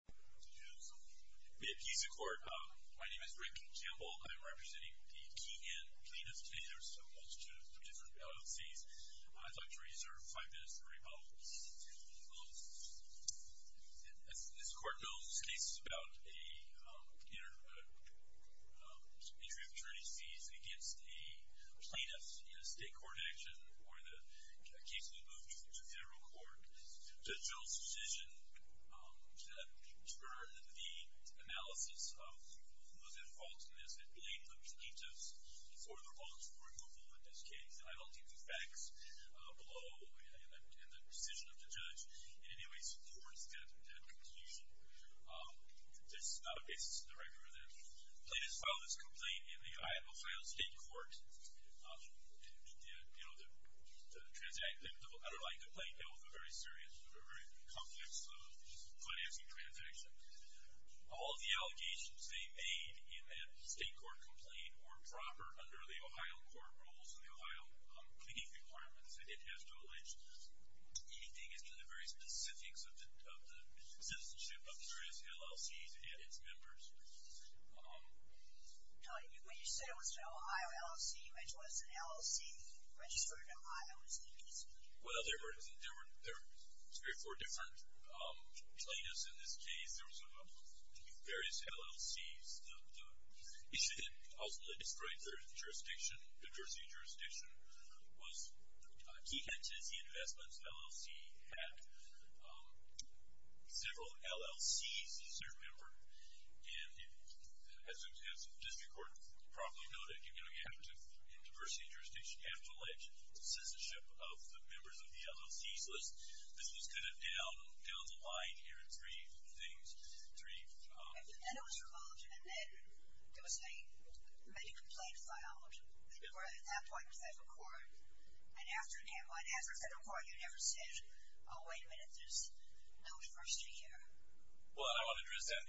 My name is Rick Gamble. I am representing the Keehan plaintiffs. Today there are a multitude of different penalties. I'd like to reserve 5 minutes to rebut. As this court knows, this case is about an entry of attorney's fees against a plaintiff in a state court action or the case will be moved to federal court. The judge's decision, or the analysis of who was at fault in this, it blamed the plaintiffs for their faults for removal in this case. I don't think the facts below and the decision of the judge in any way supports that conclusion. This is not a case to the record. The plaintiffs filed this complaint in the Ohio State Court. The underlying complaint dealt with a very serious, very complex financing transaction. All of the allegations they made in that state court complaint were proper under the Ohio court rules and the Ohio pleading requirements. It has to allege anything as to the very specifics of the citizenship of the various LLCs and its members. When you said it was an Ohio LLC, which was an LLC registered in Ohio, is that what you mean? Well, there were three or four different plaintiffs in this case. There were various LLCs. The issue that ultimately destroyed their diversity of jurisdiction was key hedges. One is the investments LLC had several LLCs, a certain number. As the district court probably noted, you have to, in diversity of jurisdiction, you have to allege citizenship of the members of the LLCs. This was kind of down the line here in three things. And then it was revoked and then there was a complaint filed at that point in federal court. And after federal court, you never said, oh, wait a minute, there's no first year here. Well, I want to address that.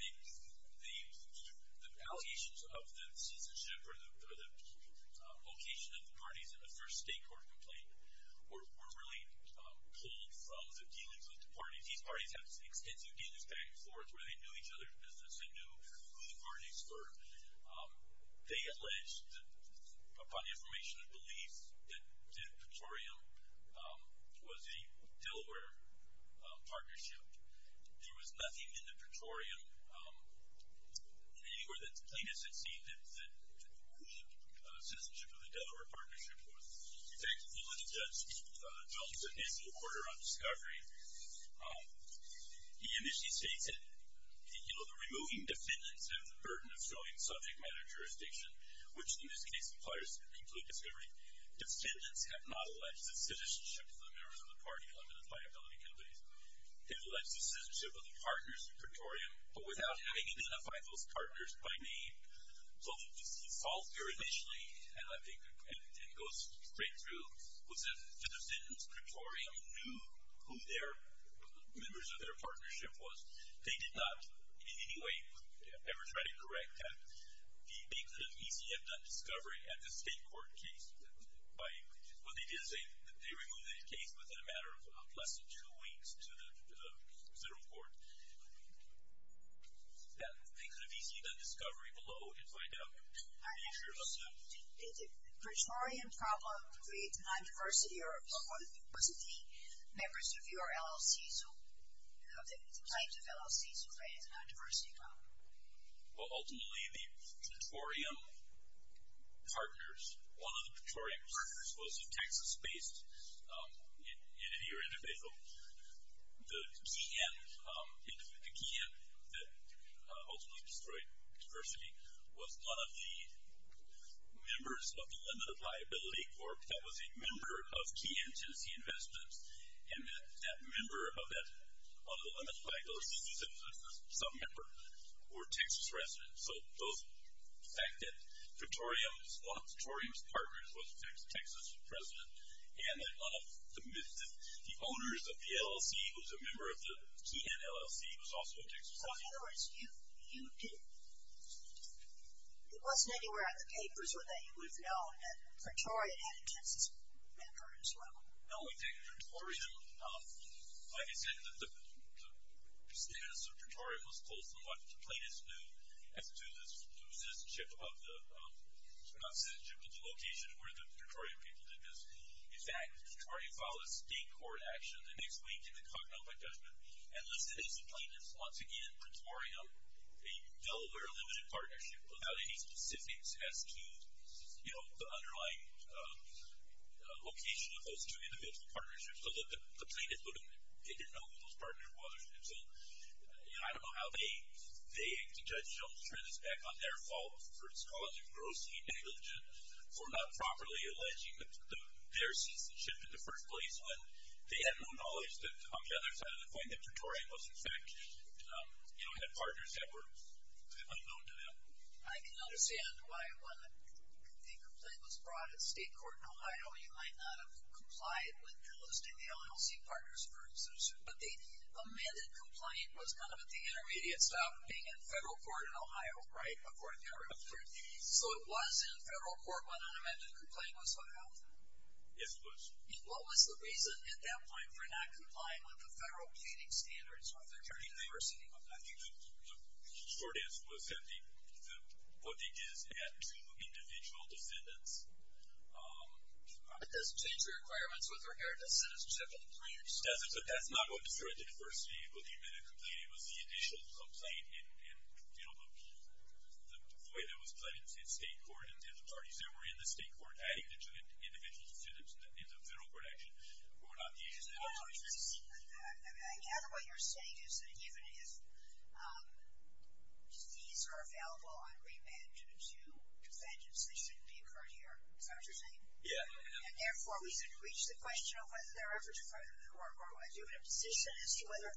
The allegations of the citizenship or the location of the parties in the first state court complaint were really pulled from the dealings with the parties. These parties have extensive dealings back and forth where they knew each other's business. They knew who the parties were. They alleged upon the information of belief that Petorium was a Delaware partnership. There was nothing in the Petorium anywhere that the plaintiffs had seen that the citizenship of the Delaware partnership was effective. When the judge dealt with his order on discovery, he initially states that, you know, the removing defendants have the burden of showing subject matter jurisdiction, which in this case requires complete discovery. Defendants have not alleged the citizenship of the members of the party-limited liability companies. They've alleged the citizenship of their partners in Petorium, but without having identified those partners by name. So the default here initially, and it goes straight through, was that the defendants in Petorium knew who their members of their partnership was. They did not, in any way, ever try to correct that. They could have easily have done discovery at the state court case. Well, they did say that they removed the case within a matter of less than two weeks to the federal court. Yeah, they could have easily done discovery below and find out the nature of the... Did the Petorium problem create a non-diversity, or was it the members of your LLC, of the plaintiff LLC, who created a non-diversity problem? Well, ultimately, the Petorium partners, one of the Petorium partners was a Texas-based entity or individual. The key end that ultimately destroyed diversity was one of the members of the Limited Liability Corp. That was a member of Key End Tenancy Investments, and that member of that Limited Liability Corporation was some member who was a Texas resident. So the fact that one of Petorium's partners was a Texas resident, and that one of the owners of the LLC, who was a member of the Key End LLC, was also a Texas resident. So in other words, you didn't... It wasn't anywhere in the papers that you would have known that Petorium had a Texas member as well. No, I think Petorium... Like I said, the status of Petorium was close to what the plaintiffs knew as to the citizenship of the... Not citizenship, but the location where the Petorium people did this. In fact, Petorium filed a state court action the next week in the Covenant by Judgment, and listed as the plaintiffs, once again, Petorium, a Delaware Limited Partnership, without any specifics as to the underlying location of those two individual partnerships. So the plaintiffs didn't know who those partners were until... I don't know how they, the judge, don't turn this back on their fault for causing gross negligence or for not properly alleging their citizenship in the first place when they had no knowledge that, on the other side of the coin, that Petorium was, in fact, had partners that were unknown to them. I can understand why, when the complaint was brought at state court in Ohio, you might not have complied with listing the LLC partners for instance. But the amended complaint was kind of at the intermediate stop of being at federal court in Ohio, right, So it was in federal court when an amended complaint was filed? Yes, it was. And what was the reason, at that point, for not complying with the federal plaiting standards of the current university? I think the short answer was that the plaiting is at two individual descendants. It doesn't change the requirements with regard to citizenship in three years. That's not what the current university, the amended complaint, it was the addition of some plaiting in the way that was plaited in state court and the parties that were in the state court added to the individuals in the federal court action who were not the agency employees. I gather what you're saying is that even if fees are available on remand to defendants, they shouldn't be incurred here. Is that what you're saying? Yeah. And therefore, we should reach the question of whether there are efforts to further the work or are you in a position as to whether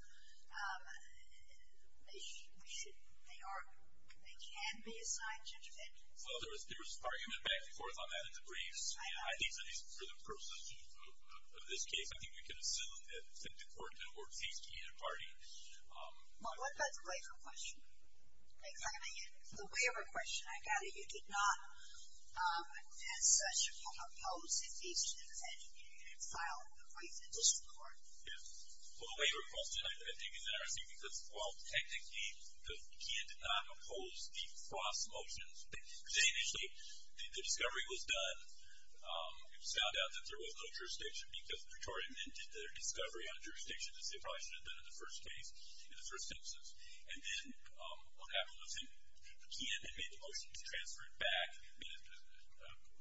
they can be assigned to defendants? Well, there was argument back and forth on that in the briefs, and I think for the purposes of this case, I think we can assume that the court didn't work fees to either party. Well, what about the waiver question? The waiver question, I gather you did not, as such, oppose if each defendant had filed a brief in district court. Yes. Well, the waiver question, I think, is interesting because, well, technically, Keon did not oppose the FOSS motions. They initially, the discovery was done, it was found out that there was no jurisdiction because the jury amended their discovery on jurisdiction as they probably should have done in the first case, in the first census. The motion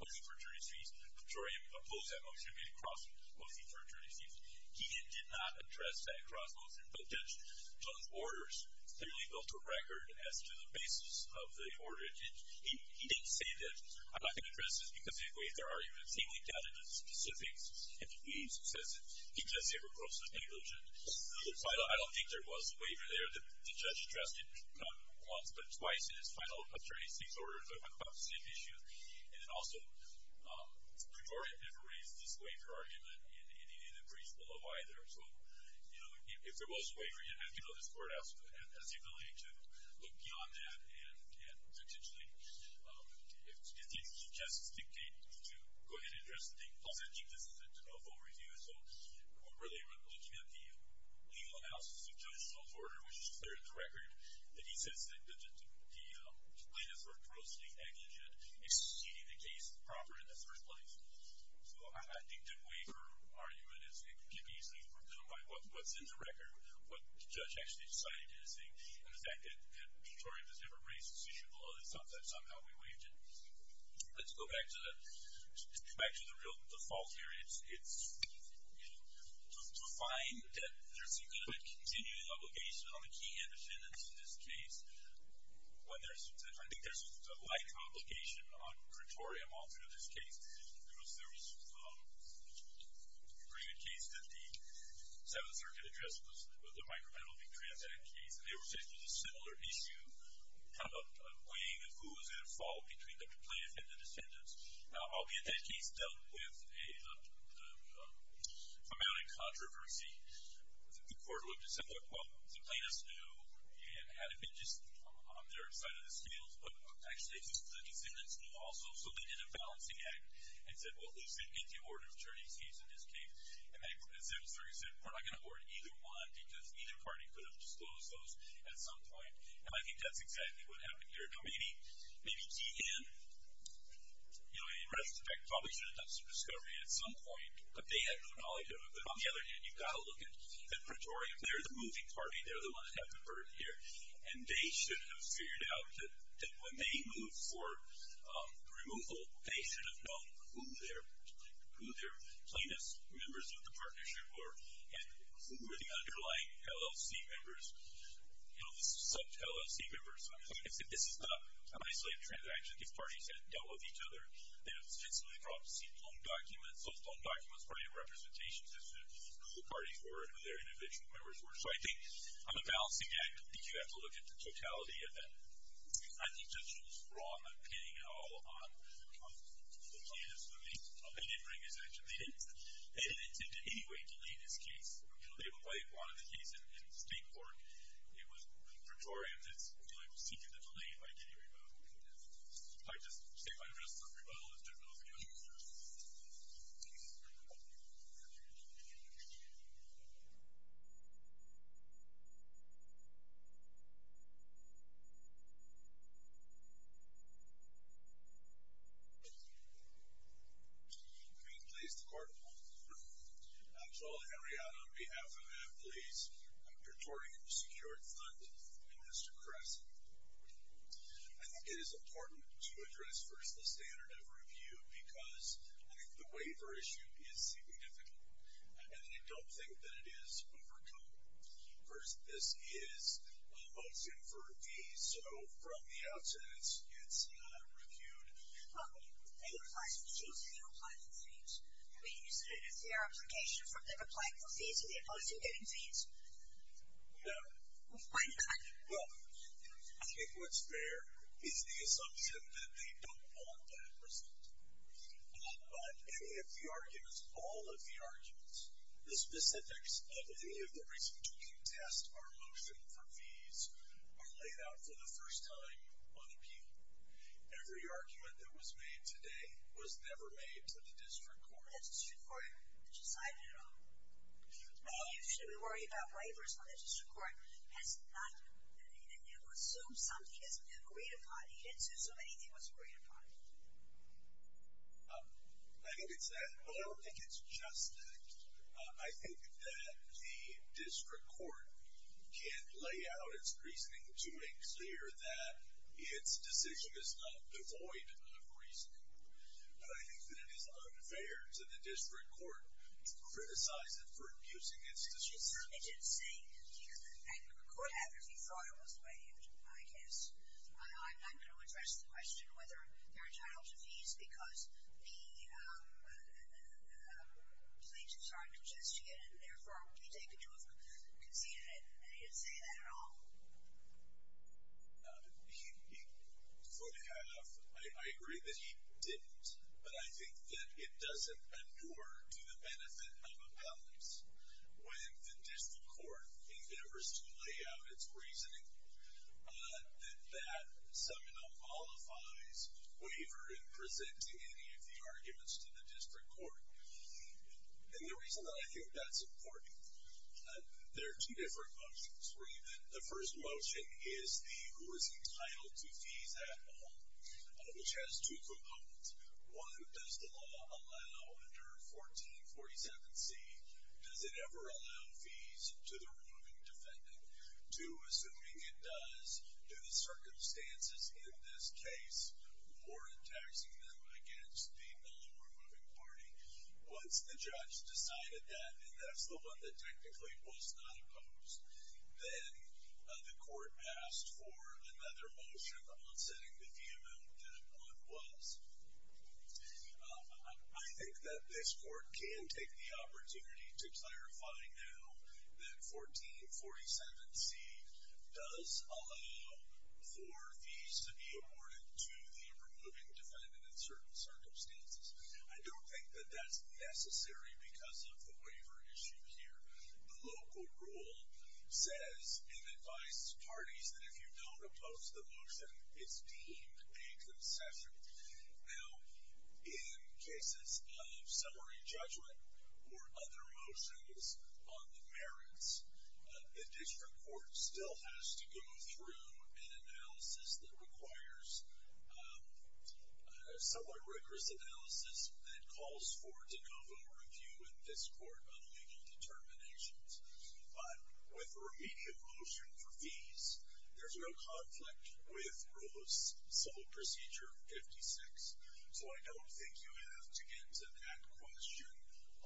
for attorney's fees, the jury opposed that motion, made a cross-motion for attorney's fees. Keon did not address that cross-motion, but Judge Jones' orders clearly built a record as to the basis of the order. He didn't say that I'm not going to address this because, in a way, there are even seemingly doubted specifics in the briefs. He says it because they were grossly negligent. I don't think there was a waiver there that the judge addressed not once but twice in his final attorney's fees order talking about the same issue, and then also the majority never raised this waiver argument in any of the briefs below either. So, you know, if there was a waiver, you'd have to go to the courthouse to have the ability to look beyond that and potentially, if the judge suggests, dictate to go ahead and address the thing. Paul said he'd listen to a full review, so we're really looking at the legal analysis of Judge Jones' order, which is clear in the record. And he says that the latest or grossly negligent exceeded the case proper in the first place. So I think the waiver argument can be easily overcome by what's in the record, what the judge actually decided to do the thing, and the fact that Detroit has never raised this issue below. It's not that somehow we waived it. Let's go back to the real default here. To find that there seems to be a continuing obligation on the key defendants in this case, I think there's a light obligation on Pretorium also in this case. There was a pretty good case that the Seventh Circuit addressed was the micrometal being transacted case, and they were saying there was a similar issue kind of weighing who was at fault between the plaintiff and the defendants. Now, albeit that case dealt with a amount of controversy. The court would have just said, look, well, the plaintiff's new, and had it been just on their side of the scales, but actually the defendant's new also. So they did a balancing act and said, well, at least we can get the order of attorneys here in this case. And the Seventh Circuit said we're not going to award either one because either party could have disclosed those at some point, and I think that's exactly what happened here. Now, maybe TN, in retrospect, probably should have done some discovery at some point, but they had no knowledge of it. But on the other hand, you've got to look at Pretorium. They're the moving party. They're the ones that have the burden here. And they should have figured out that when they moved for removal, they should have known who their plaintiff's members of the partnership were and who were the underlying LLC members, sub-LLC members. So this is not an isolated transaction. These parties had dealt with each other. They had extensively brought seat loan documents. Those loan documents were a representation as to who the parties were and who their individual members were. So I think on a balancing act, I think you have to look at the totality of that. I think Judge Schultz was wrong on pinning it all on the plaintiffs when they did bring his action. They didn't intend in any way to lead this case. You know, they wanted the case in state court. It was Pretorium that was seeking to delay it by getting a rebuttal. If I could just take my rest for a rebuttal. Let's do it both again. I'm going to place the Court of Appeals. So, Henrietta, on behalf of employees of Pretorium Secured Fund, and Mr. Kressen, I think it is important to address first the standard of review because I think the waiver issue is seemingly difficult, and I don't think that it is overcome. First, this is a motion for review. So from the outset, it's reviewed. It applies for fees. They don't apply for fees. Is there an application for them applying for fees and the opposing getting fees? No. Why not? Well, I think what's fair is the assumption that they don't want that result. But any of the arguments, all of the arguments, the specifics of any of the reasons to contest our motion for fees are laid out for the first time on appeal. Every argument that was made today was never made to the district court. The district court decided it all. Why should we worry about waivers when the district court has not been able to assume something that's been agreed upon? It didn't assume anything that was agreed upon. I think it's fair. Well, I don't think it's just that. I think that the district court can lay out its reasoning to make clear that its decision is not devoid of reason. But I think that it is unfair to the district court to criticize it for abusing its decision. It certainly didn't say. It could have if you thought it was waived, I guess. I'm not going to address the question whether there are titles of fees because the plaintiffs aren't contesting it and, therefore, you can see that it didn't say that at all. He could have. I agree that he didn't. But I think that it doesn't endure to the benefit of appellants when the district court endeavors to lay out its reasoning that that seminal qualifies waiver in presenting any of the arguments to the district court. And the reason that I think that's important, there are two different motions. The first motion is the who is entitled to fees at all, which has two components. One, does the law allow under 1447C, does it ever allow fees to the removing defendant? Two, assuming it does, do the circumstances in this case warrant taxing them against the non-removing party? Once the judge decided that, and that's the one that technically was not opposed, then the court passed for another motion on setting the fee amount that one was. I think that this court can take the opportunity to clarify now that 1447C does allow for fees to be awarded to the removing defendant in certain circumstances. I don't think that that's necessary because of the waiver issue here. The local rule says in advice parties that if you don't oppose the motion, it's deemed a concession. Now, in cases of summary judgment or other motions on the merits, the district court still has to go through an analysis that requires a somewhat rigorous analysis that calls for de novo review in this court on legal determinations. But with a remedial motion for fees, there's no conflict with rule of civil procedure 56. So I don't think you have to get into that question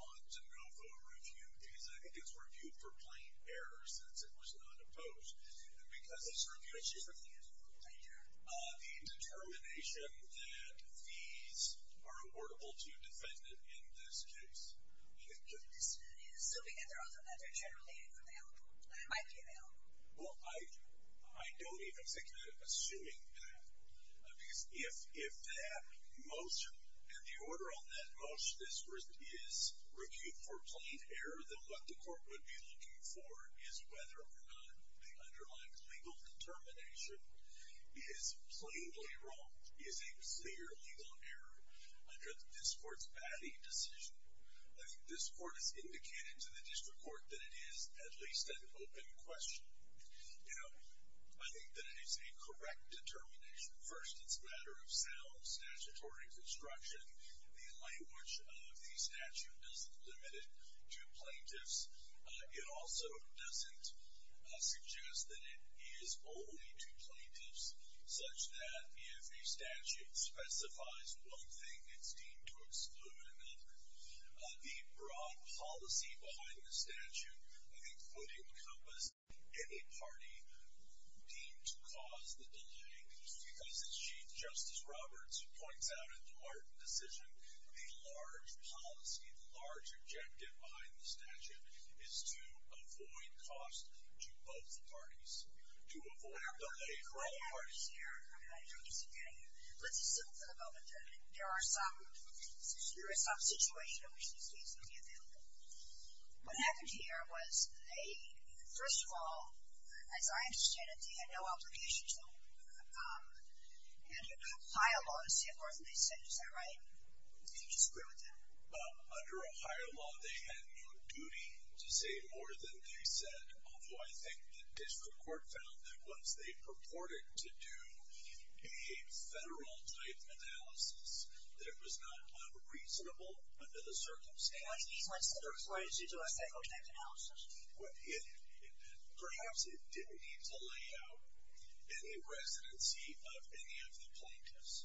on de novo review because I think it's reviewed for plain error since it was not opposed. Because it's reviewed, the determination that fees are awardable to a defendant in this case. Well, I don't even think that I'm assuming that because if that motion and the order on that motion is reviewed for plain error, then what the court would be looking for is whether or not the underlying legal determination is plainly wrong, is a clear legal error under this court's batting decision. I think this court has indicated to the district court that it is at least an open question. Now, I think that it is a correct determination. First, it's a matter of sound statutory construction. The language of the statute isn't limited to plaintiffs. It also doesn't suggest that it is only to plaintiffs such that if a statute specifies one thing, it's deemed to exclude another. The broad policy behind the statute, I think, would encompass any party deemed to cause the delay because as Chief Justice Roberts points out in the Martin decision, the large policy, the large objective behind the statute is to avoid cost to both parties, to avoid delay for all parties. Let's assume for the moment that there is some situation in which this case would be available. What happened here was they, first of all, as I understand it, they had no obligation to file a lawsuit more than they said, is that right? Do you disagree with that? Under Ohio law, they had no duty to say more than they said, although I think the district court found that once they purported to do a federal-type analysis, that it was not unreasonable under the circumstances. What do you mean by a federal-type analysis? Perhaps it didn't need to lay out any residency of any of the plaintiffs,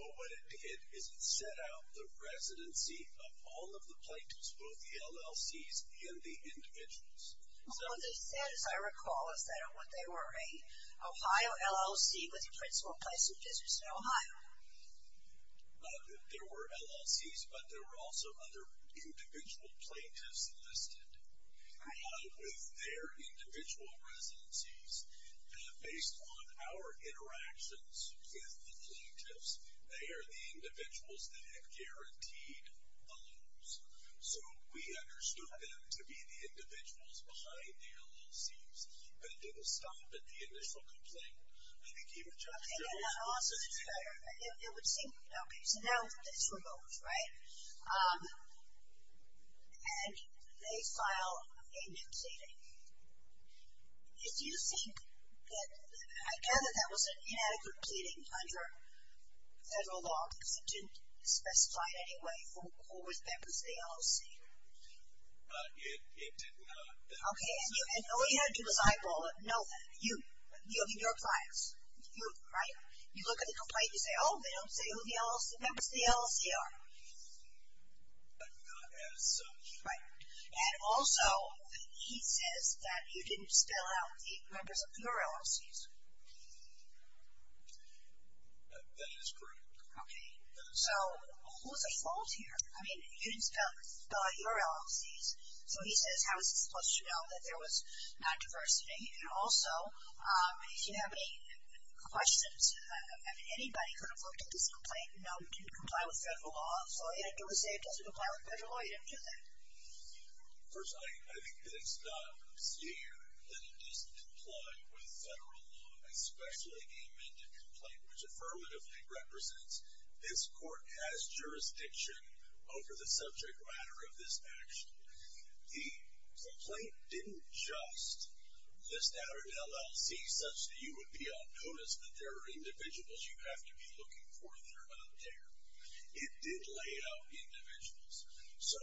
but what it did is it set out the residency of all of the plaintiffs, both the LLCs and the individuals. What they said, as I recall, is that they were an Ohio LLC with a principal place of business in Ohio. There were LLCs, but there were also other individual plaintiffs listed with their individual residencies. Based on our interactions with the plaintiffs, they are the individuals that have guaranteed the loans. So we understood them to be the individuals behind the LLCs and didn't stop at the initial complaint. I think you would just as well... Okay, so now it's remote, right? And they file a new claim. Do you think that... I gather that was an inadequate pleading under federal law because it didn't specify in any way who was members of the LLC. It did not. Okay, and you had to decide, well, no, you, your clients, right? You look at the complaint, you say, oh, they don't say who the members of the LLC are. But not as such. Right. And also, he says that you didn't spell out the members of your LLCs. That is correct. Okay. So what was the fault here? I mean, you didn't spell out your LLCs. So he says, how is he supposed to know that there was non-diversity? And also, if you have any questions, I mean, anybody could have looked at this complaint and known it didn't comply with federal law. So he had to say it doesn't comply with federal law. He didn't do that. First, I think that it's not obscene that it doesn't comply with federal law, especially an amended complaint which affirmatively represents this court has jurisdiction over the subject matter of this action. The complaint didn't just list out an LLC such that you would be on notice that there are individuals you have to be looking for if you're not there. It did lay out individuals. So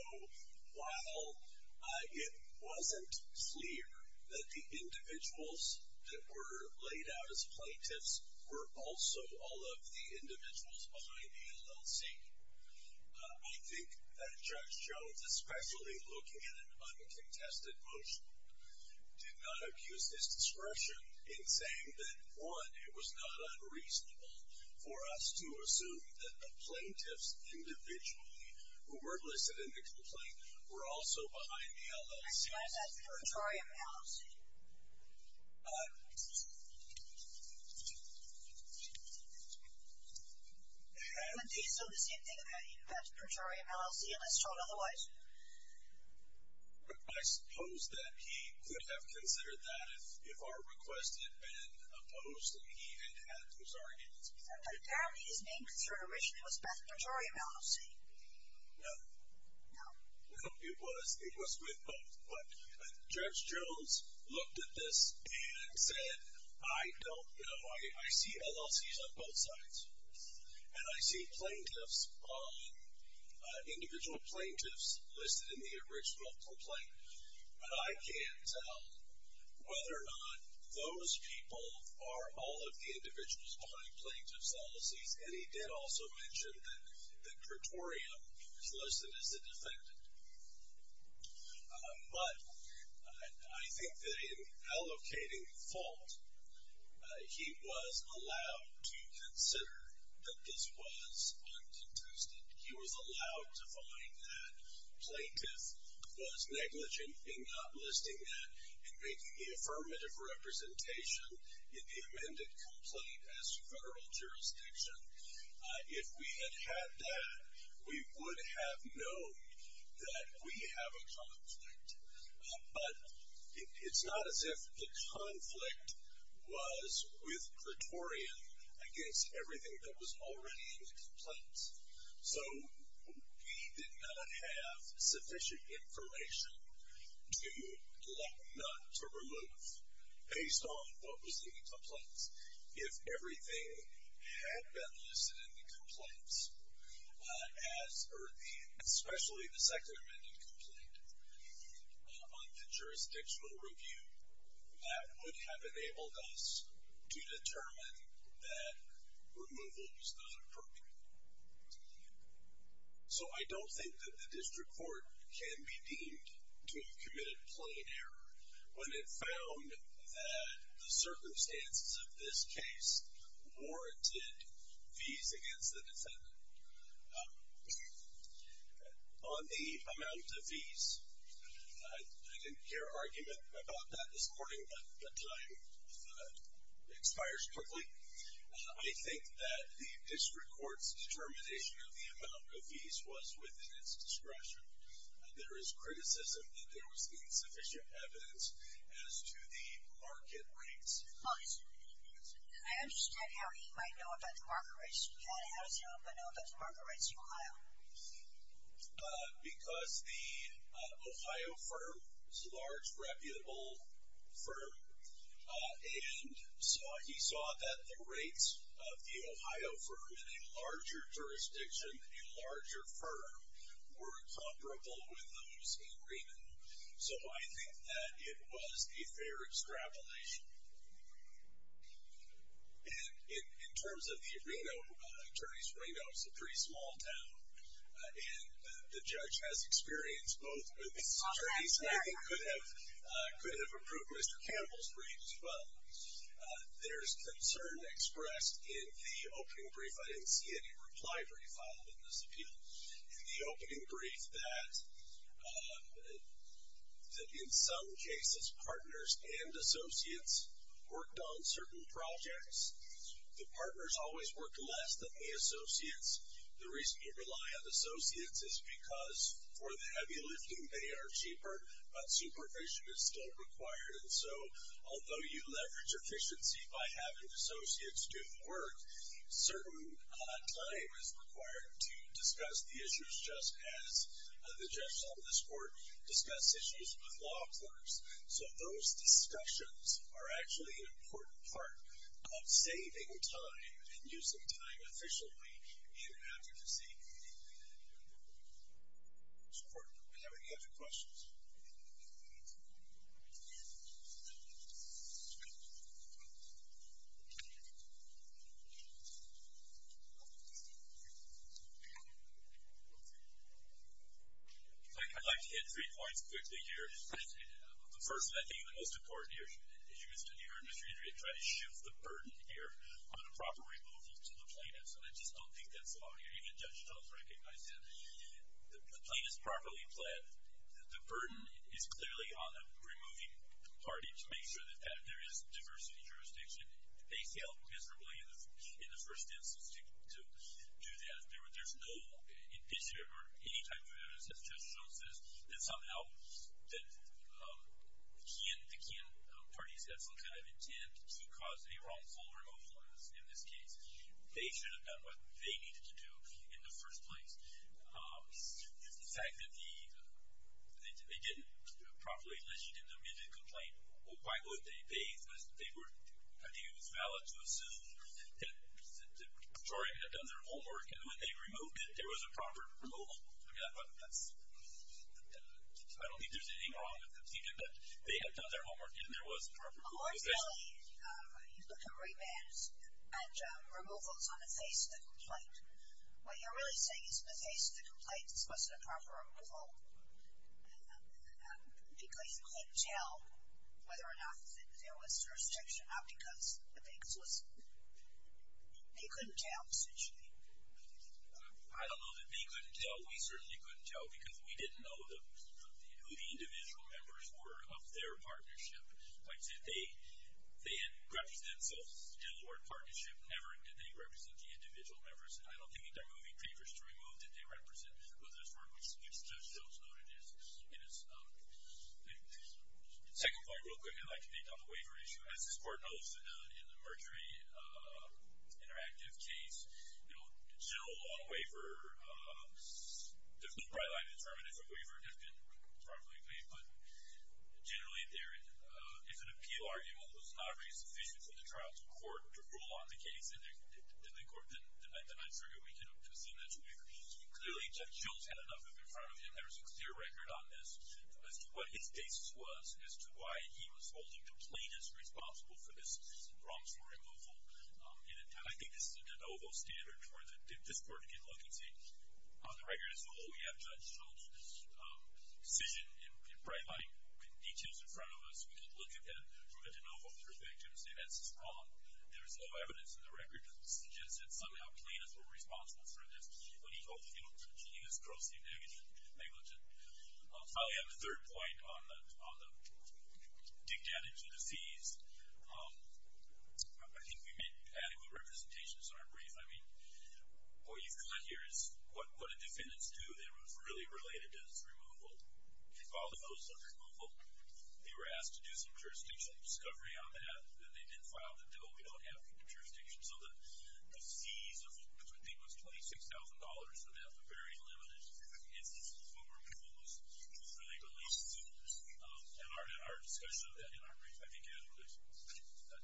while it wasn't clear that the individuals that were laid out as plaintiffs were also all of the individuals behind the LLC, I think that Judge Jones, especially looking at an uncontested motion, it was not unreasonable for us to assume that the plaintiffs individually who were listed in the complaint were also behind the LLC. I suppose that's a perjury of an LLC. I would think so. The same thing about you. That's a perjury of an LLC unless told otherwise. I suppose that he could have considered that if our request had been opposed and he had had those arguments presented. But apparently his name concern originally was Beth Pejorio, LLC. No. No. No, it was with both. But Judge Jones looked at this and said, I don't know. I see LLCs on both sides. And I see plaintiffs on individual plaintiffs listed in the original complaint. But I can't tell whether or not those people are all of the individuals behind plaintiff's LLCs. And he did also mention that Pretorium is listed as a defendant. But I think that in allocating the fault, he was allowed to consider that this was uncontested. He was allowed to find that plaintiff was negligent in not listing that and making the affirmative representation in the amended complaint as federal jurisdiction. If we had had that, we would have known that we have a conflict. But it's not as if the conflict was with Pretorium against everything that was already in the complaint. So he did not have sufficient information to let none to remove, based on what was in the complaint. If everything had been listed in the complaints, especially the second amended complaint on the jurisdictional review, that would have enabled us to determine that removal was not appropriate. So I don't think that the district court can be deemed to have committed a complaint error when it found that the circumstances of this case warranted fees against the defendant. On the amount of fees, I didn't hear an argument about that this morning, but time expires quickly. I think that the district court's determination of the amount of fees was within its discretion. There is criticism that there was insufficient evidence as to the market rates. I understand how he might know about the market rates. How does he know about the market rates in Ohio? Because the Ohio firm is a large, reputable firm. And he saw that the rates of the Ohio firm in a larger jurisdiction, a larger firm, were comparable with those in Reno. So I think that it was a fair extrapolation. And in terms of the Reno, attorneys from Reno, it's a pretty small town, and the judge has experience both with these attorneys, and I think could have approved Mr. Campbell's brief as well. There's concern expressed in the opening brief. I didn't see any reply for you following this appeal. In the opening brief, that in some cases, partners and associates worked on certain projects. The partners always worked less than the associates. The reason you rely on associates is because for the heavy lifting, they are cheaper, but supervision is still required. And so although you leverage efficiency by having associates do the work, certain time is required to discuss the issues, just as the judge on this court discussed issues with law clerks. So those discussions are actually an important part of saving time and using time efficiently in advocacy. Does the court have any other questions? Okay. I'd like to hit three points quickly here. The first, and I think the most important issue, as you understand here, is we're going to try to shift the burden here on a proper removal to the plaintiffs, and I just don't think that's the law here. Even Judge Jones recognized that. The plaintiffs properly pled that the burden is clearly on the removing party to make sure that there is diversity jurisdiction. They failed miserably in the first instance to do that. There's no initiative or any type of evidence, as Judge Jones says, that somehow the Kean party has had some kind of intent to cause a wrongful removal in this case. They should have done what they needed to do in the first place. The fact that they didn't properly list it in the admitted complaint, well, why would they? They were, I think it was valid to assume that the jury had done their homework and when they removed it, there was a proper removal. I mean, I don't think there's anything wrong with that. They did that. They had done their homework and there was a proper removal. Well, originally, you look at remands and removals on the face of the complaint. What you're really saying is, the face of the complaint wasn't a proper removal because you couldn't tell whether or not there was jurisdiction, not because the face was. They couldn't tell essentially. I don't know that they couldn't tell. We certainly couldn't tell because we didn't know who the individual members were of their partnership. Like I said, they had represented themselves, still were in partnership, never did they represent the individual members, and I don't think that they're moving papers to remove that they represent of this work, which Judge Jones noted is. Second point, real quick, I'd like to pick up on the waiver issue. As this Court knows, in the Mergery Interactive case, the general law on waiver, there's no bright line to determine if a waiver has been properly paid, but generally, if an appeal argument was not really sufficient for the trial to court to rule on the case in the court, then I figure we can assume that's a waiver. Clearly, Judge Jones had enough of it in front of him. There's a clear record on this as to what his basis was, as to why he was holding Plaintiff responsible for this wrongful removal, and I think this is a de novo standard for this Court to get a look and see. On the record as a whole, we have Judge Jones' decision and bright line details in front of us. We can look at that from a de novo perspective and say that's just wrong. There's no evidence in the record that suggests that somehow Plaintiff was responsible for this. He was grossly negligent. Finally, I have a third point on the dictatage of the fees. I think we made adequate representations in our brief. I mean, what you've got here is what the defendants do. They were really related to this removal. All of those under removal, they were asked to do some jurisdictional discovery on that, and they didn't file the bill. We don't have jurisdiction. So the fees of what we think was $26,000 for that, but very limited instances of removal, was really related to this. And our discussion of that in our brief, I think, had an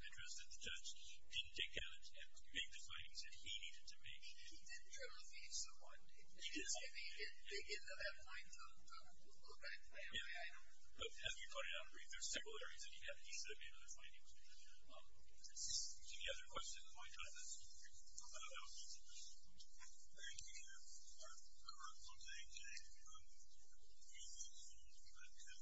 interest that the judge didn't take into account and make the findings that he needed to make. He didn't try to leave someone, did he? He didn't. I mean, he didn't dig into that point. Okay. But as we pointed out in the brief, there's several areas that he had. He should have made other findings. Any other questions of my time? That's all for me. Thank you. Thank you. Our current one day is a meeting of the board of trustees. We'll be back at about 2 minutes. We'll be back at 2 minutes. 3 minutes. Okay.